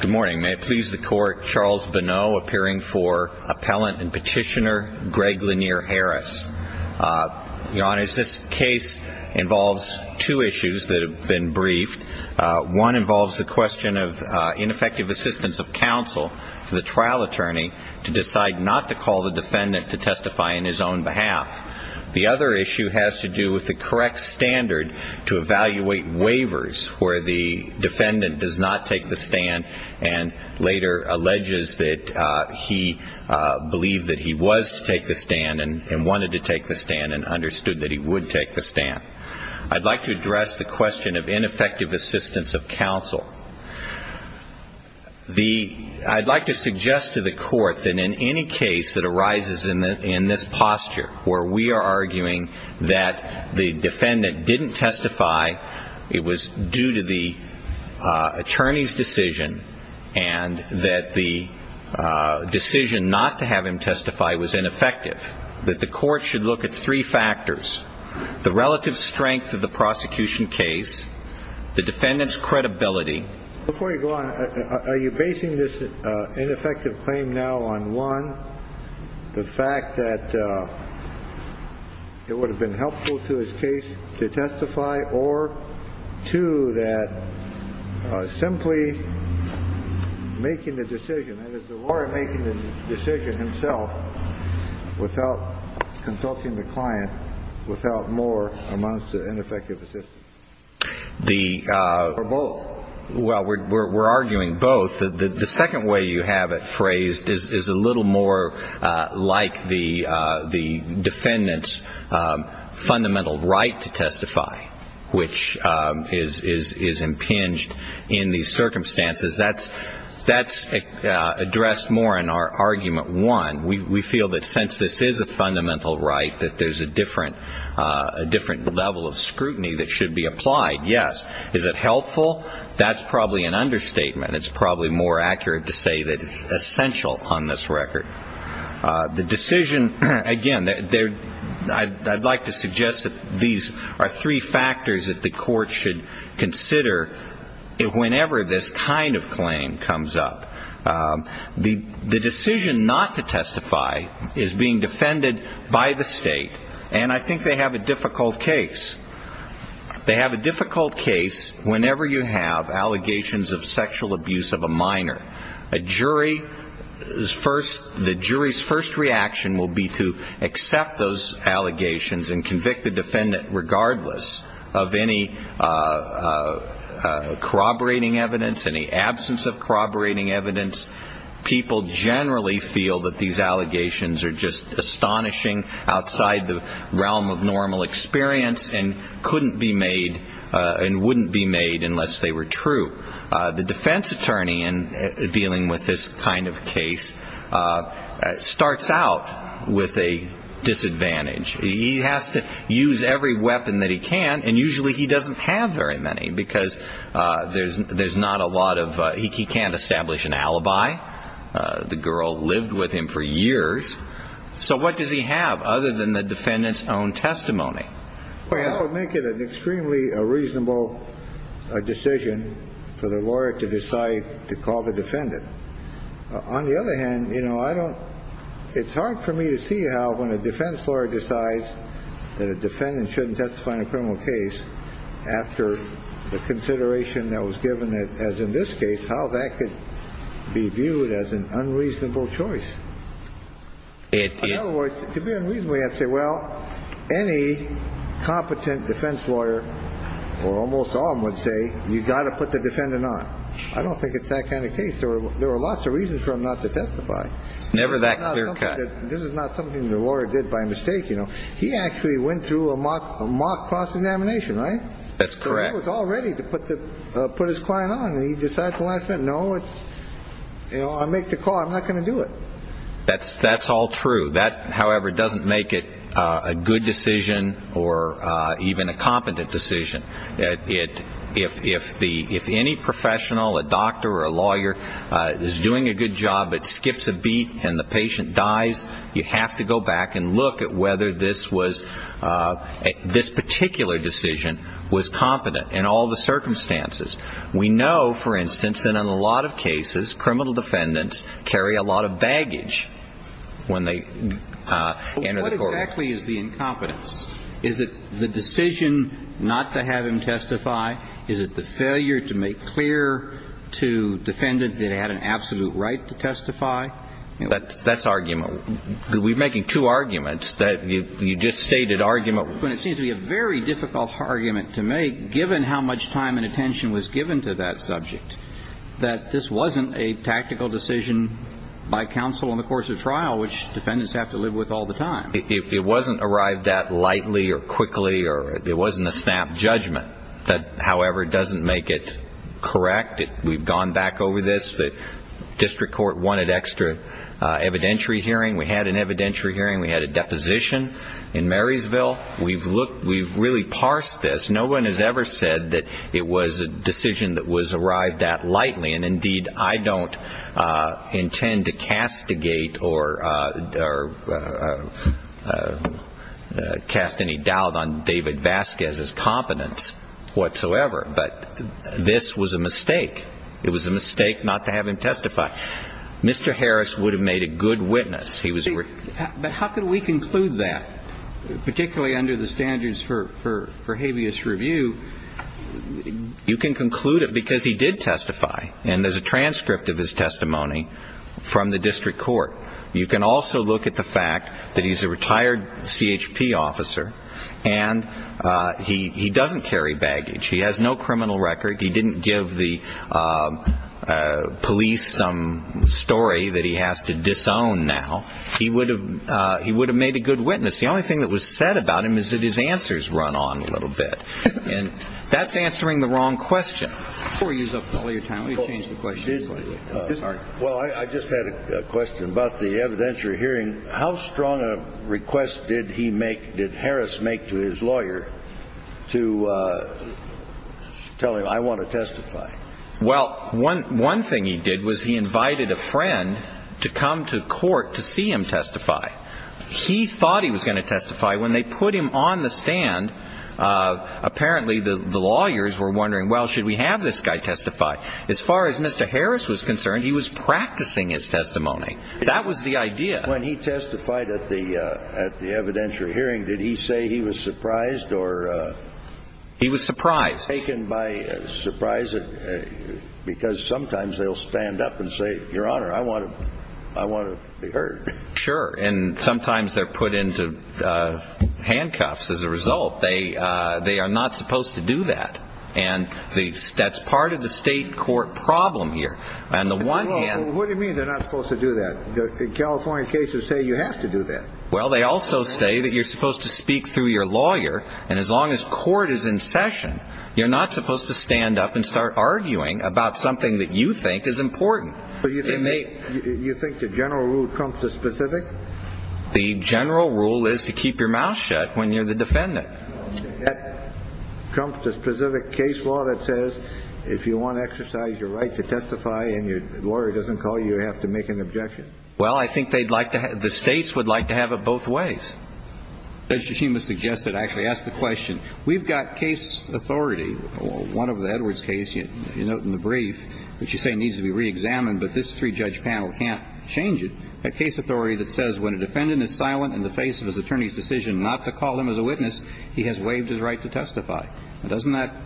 Good morning. May it please the court, Charles Bonneau appearing for Appellant and Petitioner Greg Lanier Harris. Your Honor, this case involves two issues that have been briefed. One involves the question of ineffective assistance of counsel to the trial attorney to decide not to call the defendant to testify on his own behalf. The other issue has to do with the correct standard to evaluate waivers where the defendant does not take the stand and later alleges that he believed that he was to take the stand and wanted to take the stand and understood that he would take the stand. I'd like to address the question of ineffective assistance of counsel. I'd like to suggest to the court that in any case that arises in this posture where we are arguing that the defendant didn't testify, it was due to the attorney's decision, and that the decision not to have him testify was ineffective, that the court should look at three factors, the relative strength of the prosecution case, the defendant's credibility. Before you go on, are you basing this ineffective claim now on, one, the fact that it would have been helpful to his case to testify, or two, that simply making the decision, that is, the lawyer making the decision himself without consulting the client, without more amounts of ineffective assistance, or both? Well, we're arguing both. The second way you have it phrased is a little more like the defendant's fundamental right to testify, which is impinged in these circumstances. That's addressed more in our argument one. We feel that since this is a fundamental right, that there's a different level of scrutiny that should be applied. Yes. Is it helpful? That's probably an understatement. It's probably more accurate to say that it's essential on this record. The decision, again, I'd like to suggest that these are three factors that the court should consider whenever this kind of claim comes up. The decision not to testify is being defended by the state, and I think they have a difficult case. They have a difficult case whenever you have allegations of sexual abuse of a minor. A jury's first reaction will be to accept those allegations and convict the defendant regardless of any corroborating evidence, any absence of corroborating evidence. People generally feel that these allegations are just astonishing outside the realm of normal experience and couldn't be made and wouldn't be made unless they were true. The defense attorney in dealing with this kind of case starts out with a disadvantage. He has to use every weapon that he can, and usually he doesn't have very many because there's not a lot of he can't establish an alibi. The girl lived with him for years. So what does he have other than the defendant's own testimony? I would make it an extremely reasonable decision for the lawyer to decide to call the defendant. On the other hand, you know, I don't it's hard for me to see how when a defense lawyer decides that a defendant shouldn't testify in a criminal case after the consideration that was given, as in this case, how that could be viewed as an unreasonable choice. In other words, to be unreasonable, you have to say, well, any competent defense lawyer or almost all of them would say you've got to put the defendant on. I don't think it's that kind of case or there are lots of reasons for him not to testify. Never that clear cut. This is not something the lawyer did by mistake. You know, he actually went through a mock mock cross examination, right? That's correct. Already to put the put his client on. He decides the last minute. No, it's you know, I make the call. I'm not going to do it. That's that's all true. That, however, doesn't make it a good decision or even a competent decision. If the if any professional, a doctor or a lawyer is doing a good job, it skips a beat and the patient dies. You have to go back and look at whether this was this particular decision was competent in all the circumstances. We know, for instance, that in a lot of cases, criminal defendants carry a lot of baggage when they enter. What exactly is the incompetence? Is it the decision not to have him testify? Is it the failure to make clear to defendants that they had an absolute right to testify? That's that's argument. We're making two arguments that you just stated argument when it seems to be a very difficult argument to make, given how much time and attention was given to that subject, that this wasn't a tactical decision by counsel in the course of trial, which defendants have to live with all the time. It wasn't arrived at lightly or quickly or it wasn't a snap judgment that, however, doesn't make it correct. We've gone back over this. The district court wanted extra evidentiary hearing. We had an evidentiary hearing. We had a deposition in Marysville. We've looked we've really parsed this. No one has ever said that it was a decision that was arrived at lightly. And indeed, I don't intend to castigate or cast any doubt on David Vasquez's competence whatsoever. But this was a mistake. It was a mistake not to have him testify. Mr. Harris would have made a good witness. He was. But how can we conclude that, particularly under the standards for habeas review? You can conclude it because he did testify. And there's a transcript of his testimony from the district court. You can also look at the fact that he's a retired CHP officer and he doesn't carry baggage. He has no criminal record. He didn't give the police some story that he has to disown now. He would have made a good witness. The only thing that was said about him is that his answers run on a little bit. And that's answering the wrong question. Before you use up all your time, let me change the question. Well, I just had a question about the evidentiary hearing. How strong a request did he make, did Harris make to his lawyer to tell him, I want to testify? Well, one thing he did was he invited a friend to come to court to see him testify. He thought he was going to testify. When they put him on the stand, apparently the lawyers were wondering, well, should we have this guy testify? As far as Mr. Harris was concerned, he was practicing his testimony. That was the idea. When he testified at the evidentiary hearing, did he say he was surprised or? He was surprised. Taken by surprise because sometimes they'll stand up and say, Your Honor, I want to be heard. Sure. And sometimes they're put into handcuffs as a result. They are not supposed to do that. And that's part of the state court problem here. What do you mean they're not supposed to do that? The California cases say you have to do that. Well, they also say that you're supposed to speak through your lawyer. And as long as court is in session, you're not supposed to stand up and start arguing about something that you think is important. So you think the general rule comes to specific? The general rule is to keep your mouth shut when you're the defendant. That comes to specific case law that says if you want to exercise your right to testify and your lawyer doesn't call you, you have to make an objection. Well, I think they'd like to have the states would like to have it both ways. Judge Tsushima suggested I actually ask the question. We've got case authority. One of the Edwards case, you note in the brief, which you say needs to be reexamined, but this three-judge panel can't change it. That case authority that says when a defendant is silent in the face of his attorney's decision not to call him as a witness, he has waived his right to testify. Doesn't that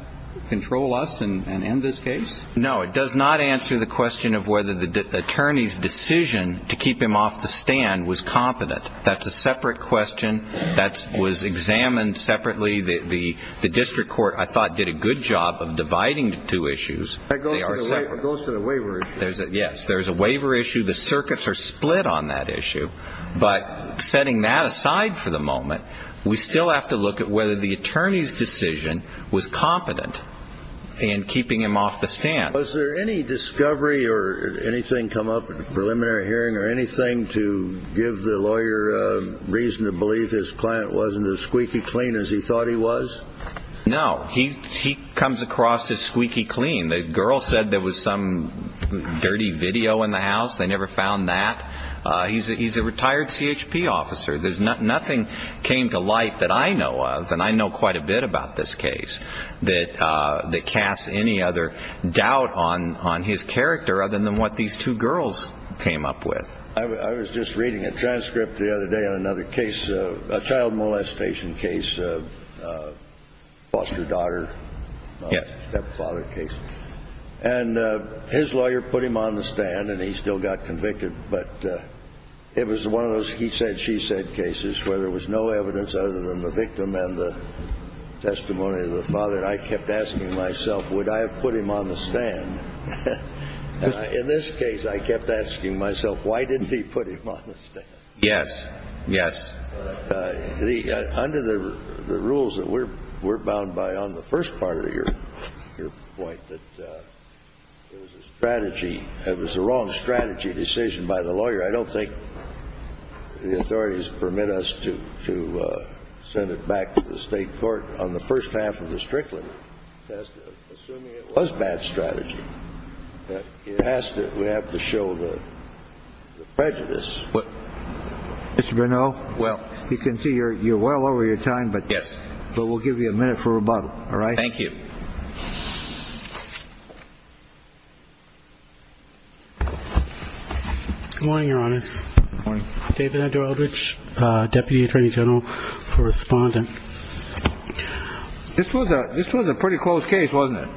control us and end this case? No, it does not answer the question of whether the attorney's decision to keep him off the stand was competent. That's a separate question. That was examined separately. The district court, I thought, did a good job of dividing the two issues. That goes to the waiver issue. Yes, there's a waiver issue. The circuits are split on that issue. But setting that aside for the moment, we still have to look at whether the attorney's decision was competent in keeping him off the stand. Was there any discovery or anything come up in the preliminary hearing or anything to give the lawyer reason to believe his client wasn't as squeaky clean as he thought he was? No. He comes across as squeaky clean. The girl said there was some dirty video in the house. They never found that. He's a retired CHP officer. Nothing came to light that I know of, and I know quite a bit about this case, that casts any other doubt on his character other than what these two girls came up with. I was just reading a transcript the other day on another case, a child molestation case, foster daughter, stepfather case. And his lawyer put him on the stand, and he still got convicted. But it was one of those he-said-she-said cases where there was no evidence other than the victim and the testimony of the father. And I kept asking myself, would I have put him on the stand? In this case, I kept asking myself, why didn't he put him on the stand? Yes, yes. Under the rules that we're bound by on the first part of your point that it was a strategy, it was a wrong strategy decision by the lawyer, I don't think the authorities permit us to send it back to the state court on the first half of the Strickland test, assuming it was bad strategy. It has to – we have to show the prejudice. Mr. Grinnell, well, you can see you're well over your time, but we'll give you a minute for rebuttal. All right? Thank you. Good morning, Your Honors. Good morning. David Edward Eldridge, Deputy Attorney General for Respondent. This was a pretty close case, wasn't it?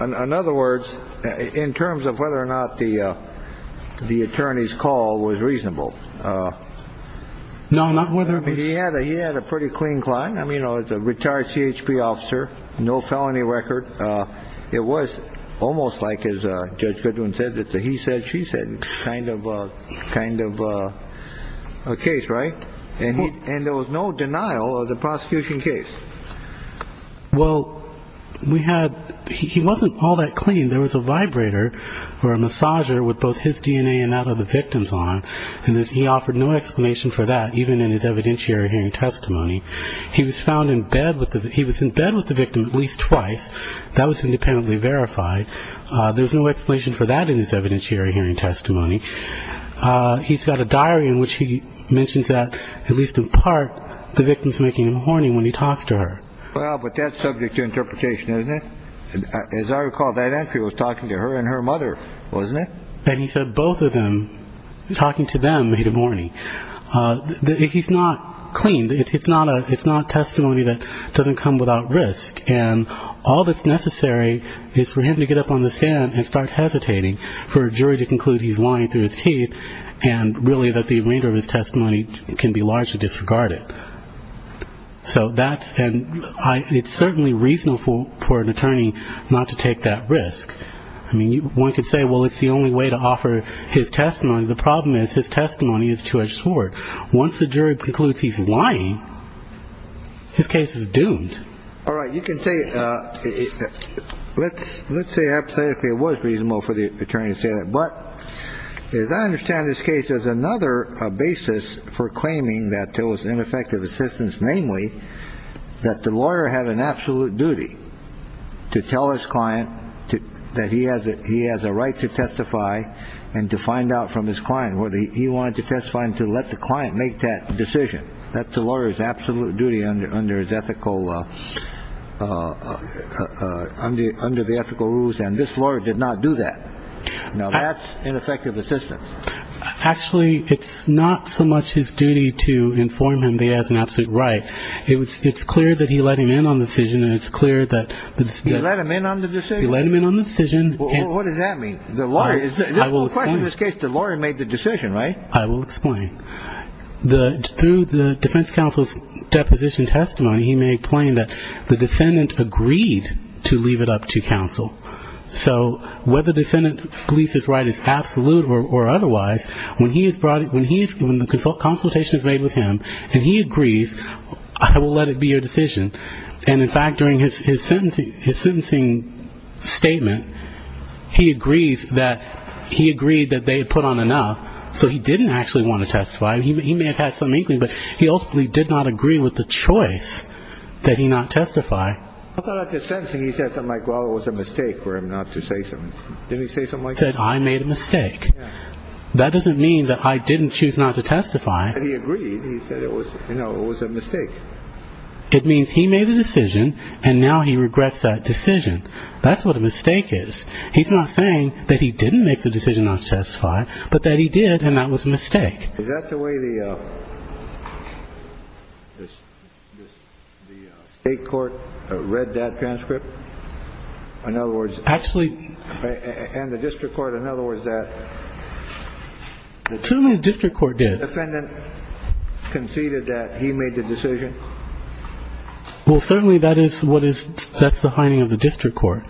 In other words, in terms of whether or not the attorney's call was reasonable. No, not whether it was. He had a pretty clean client. I mean, it was a retired CHP officer, no felony record. It was almost like, as Judge Goodwin said, the he said, she said kind of a case, right? And there was no denial of the prosecution case. Well, we had – he wasn't all that clean. There was a vibrator or a massager with both his DNA and that of the victim's on him, and he offered no explanation for that, even in his evidentiary hearing testimony. He was found in bed with the – he was in bed with the victim at least twice. That was independently verified. There's no explanation for that in his evidentiary hearing testimony. He's got a diary in which he mentions that, at least in part, the victim's making him horny when he talks to her. Well, but that's subject to interpretation, isn't it? As I recall, that entry was talking to her and her mother, wasn't it? And he said both of them, talking to them, made him horny. He's not clean. It's not testimony that doesn't come without risk, and all that's necessary is for him to get up on the stand and start hesitating, for a jury to conclude he's lying through his teeth and really that the remainder of his testimony can be largely disregarded. So that's – and it's certainly reasonable for an attorney not to take that risk. I mean, one could say, well, it's the only way to offer his testimony. The problem is his testimony is too short. Once the jury concludes he's lying, his case is doomed. All right. You can say – let's say hypothetically it was reasonable for the attorney to say that. But as I understand this case, there's another basis for claiming that there was ineffective assistance, namely that the lawyer had an absolute duty to tell his client that he has a right to testify and to find out from his client whether he wanted to testify and to let the client make that decision. That's the lawyer's absolute duty under his ethical – under the ethical rules. And this lawyer did not do that. Now, that's ineffective assistance. Actually, it's not so much his duty to inform him that he has an absolute right. It's clear that he let him in on the decision. And it's clear that the – He let him in on the decision? He let him in on the decision. What does that mean? The lawyer – I will explain. In this case, the lawyer made the decision, right? I will explain. Through the defense counsel's deposition testimony, he made plain that the defendant agreed to leave it up to counsel. So whether the defendant believes his right is absolute or otherwise, when he is brought – when the consultation is made with him and he agrees, I will let it be your decision. And, in fact, during his sentencing statement, he agrees that – he agreed that they had put on enough, so he didn't actually want to testify. He may have had some inkling, but he ultimately did not agree with the choice that he not testify. I thought at the sentencing he said something like, well, it was a mistake for him not to say something. Didn't he say something like that? He said, I made a mistake. Yeah. That doesn't mean that I didn't choose not to testify. But he agreed. He said it was – you know, it was a mistake. It means he made a decision and now he regrets that decision. That's what a mistake is. He's not saying that he didn't make the decision not to testify, but that he did and that was a mistake. Is that the way the state court read that transcript? In other words – Actually – And the district court, in other words, that – Certainly the district court did. The defendant conceded that he made the decision. Well, certainly that is what is – that's the hiding of the district court.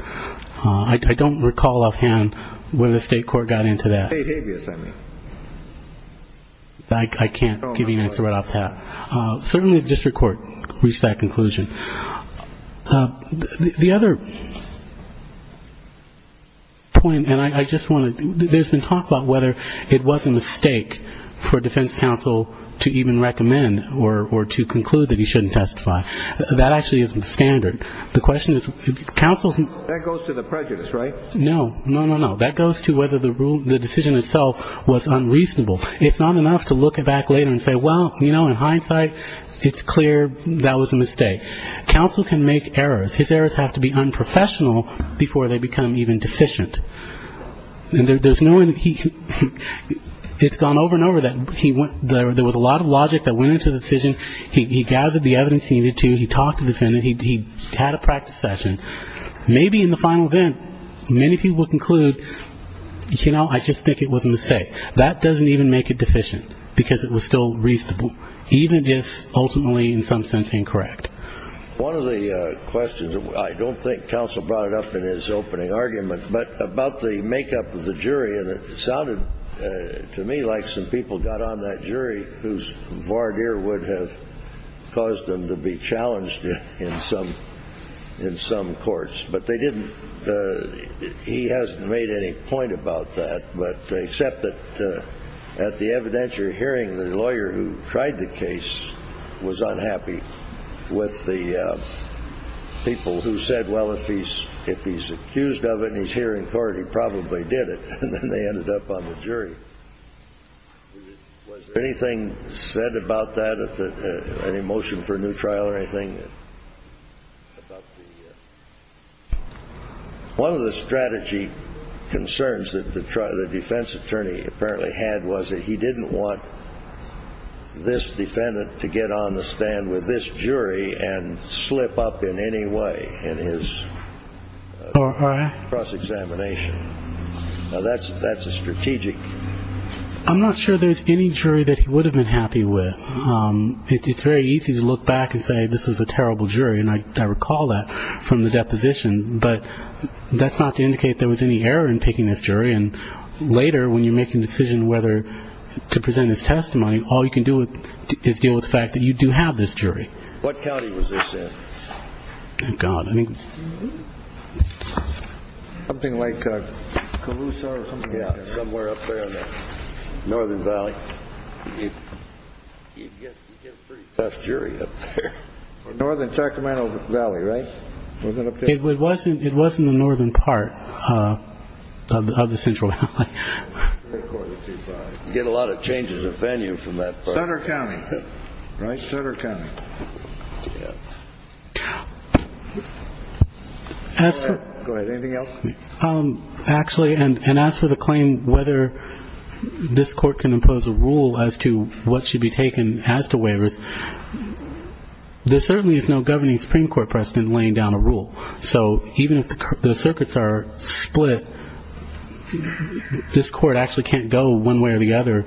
I don't recall offhand whether the state court got into that. State habeas, I mean. I can't give you an answer right off the bat. Certainly the district court reached that conclusion. The other point, and I just want to – there's been talk about whether it was a mistake for defense counsel to even recommend or to conclude that he shouldn't testify. That actually isn't standard. The question is counsel's – That goes to the prejudice, right? No. No, no, no. That goes to whether the decision itself was unreasonable. It's not enough to look back later and say, well, you know, in hindsight, it's clear that was a mistake. Counsel can make errors. His errors have to be unprofessional before they become even deficient. And there's no – It's gone over and over that there was a lot of logic that went into the decision. He gathered the evidence he needed to. He talked to the defendant. He had a practice session. Maybe in the final event, many people conclude, you know, I just think it was a mistake. That doesn't even make it deficient because it was still reasonable, even if ultimately in some sense incorrect. One of the questions, I don't think counsel brought it up in his opening argument, but about the makeup of the jury, and it sounded to me like some people got on that jury whose voir dire would have caused them to be challenged in some courts. But they didn't – he hasn't made any point about that, except that at the evidentiary hearing, the lawyer who tried the case was unhappy with the people who said, well, if he's accused of it and he's here in court, he probably did it. And then they ended up on the jury. Was there anything said about that, any motion for a new trial or anything? One of the strategy concerns that the defense attorney apparently had was that he didn't want this defendant to get on the stand with this jury and slip up in any way in his cross-examination. Now, that's a strategic. I'm not sure there's any jury that he would have been happy with. It's very easy to look back and say this was a terrible jury, and I recall that from the deposition. But that's not to indicate there was any error in picking this jury. And later, when you're making a decision whether to present his testimony, all you can do is deal with the fact that you do have this jury. What county was this in? Thank God. I mean, something like Calusa or something somewhere up there in the Northern Valley. You get a pretty tough jury up there. Northern Sacramento Valley, right? It was in the northern part of the Central Valley. You get a lot of changes of venue from that part. Sutter County, right? Sutter County. Go ahead. Anything else? Actually, and as for the claim whether this court can impose a rule as to what should be taken as to waivers, there certainly is no governing Supreme Court precedent laying down a rule. So even if the circuits are split, this court actually can't go one way or the other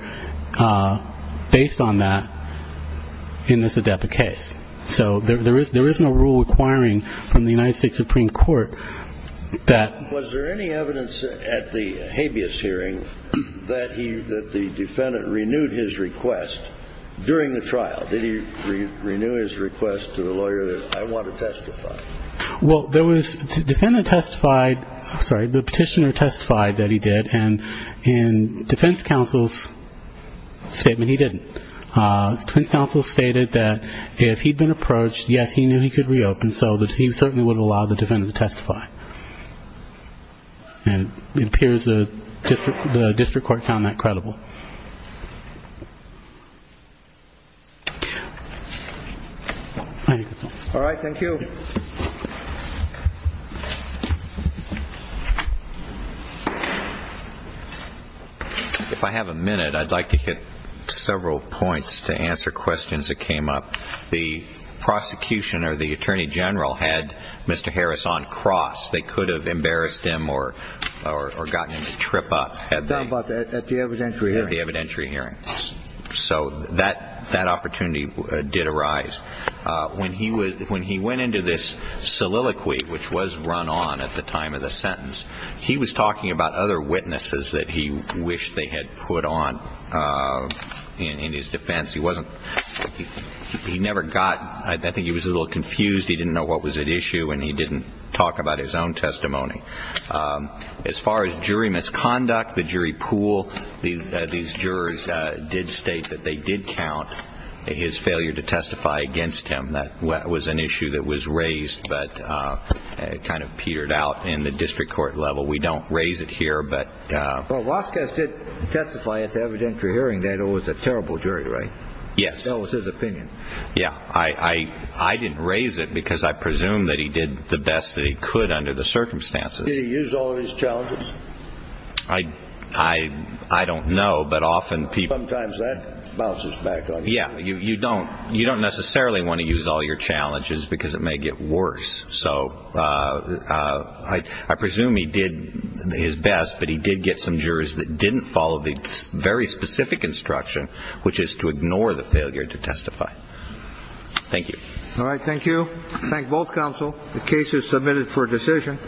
based on that in this adepti case. So there is no rule requiring from the United States Supreme Court that. Was there any evidence at the habeas hearing that the defendant renewed his request during the trial? Did he renew his request to the lawyer that I want to testify? Well, the petitioner testified that he did, and in defense counsel's statement, he didn't. Defense counsel stated that if he'd been approached, yes, he knew he could reopen, and so he certainly would allow the defendant to testify. And it appears the district court found that credible. All right, thank you. If I have a minute, I'd like to hit several points to answer questions that came up. The prosecution or the attorney general had Mr. Harris on cross. They could have embarrassed him or gotten him to trip up. At the evidentiary hearing. At the evidentiary hearing. So that opportunity did arise. When he went into this soliloquy, which was run on at the time of the sentence, he was talking about other witnesses that he wished they had put on in his defense. He wasn't he never got I think he was a little confused. He didn't know what was at issue and he didn't talk about his own testimony. As far as jury misconduct, the jury pool, these jurors did state that they did count his failure to testify against him. That was an issue that was raised, but it kind of petered out in the district court level. We don't raise it here. But I did testify at the evidentiary hearing that it was a terrible jury, right? Yes. That was his opinion. Yeah. I, I didn't raise it because I presume that he did the best that he could under the circumstances. He used all of his challenges. I, I, I don't know. But often people. Sometimes that bounces back on. Yeah. You don't you don't necessarily want to use all your challenges because it may get worse. So I presume he did his best, but he did get some jurors that didn't follow the very specific instruction, which is to ignore the failure to testify. Thank you. All right. Thank you. Thank both counsel. The case is submitted for decision.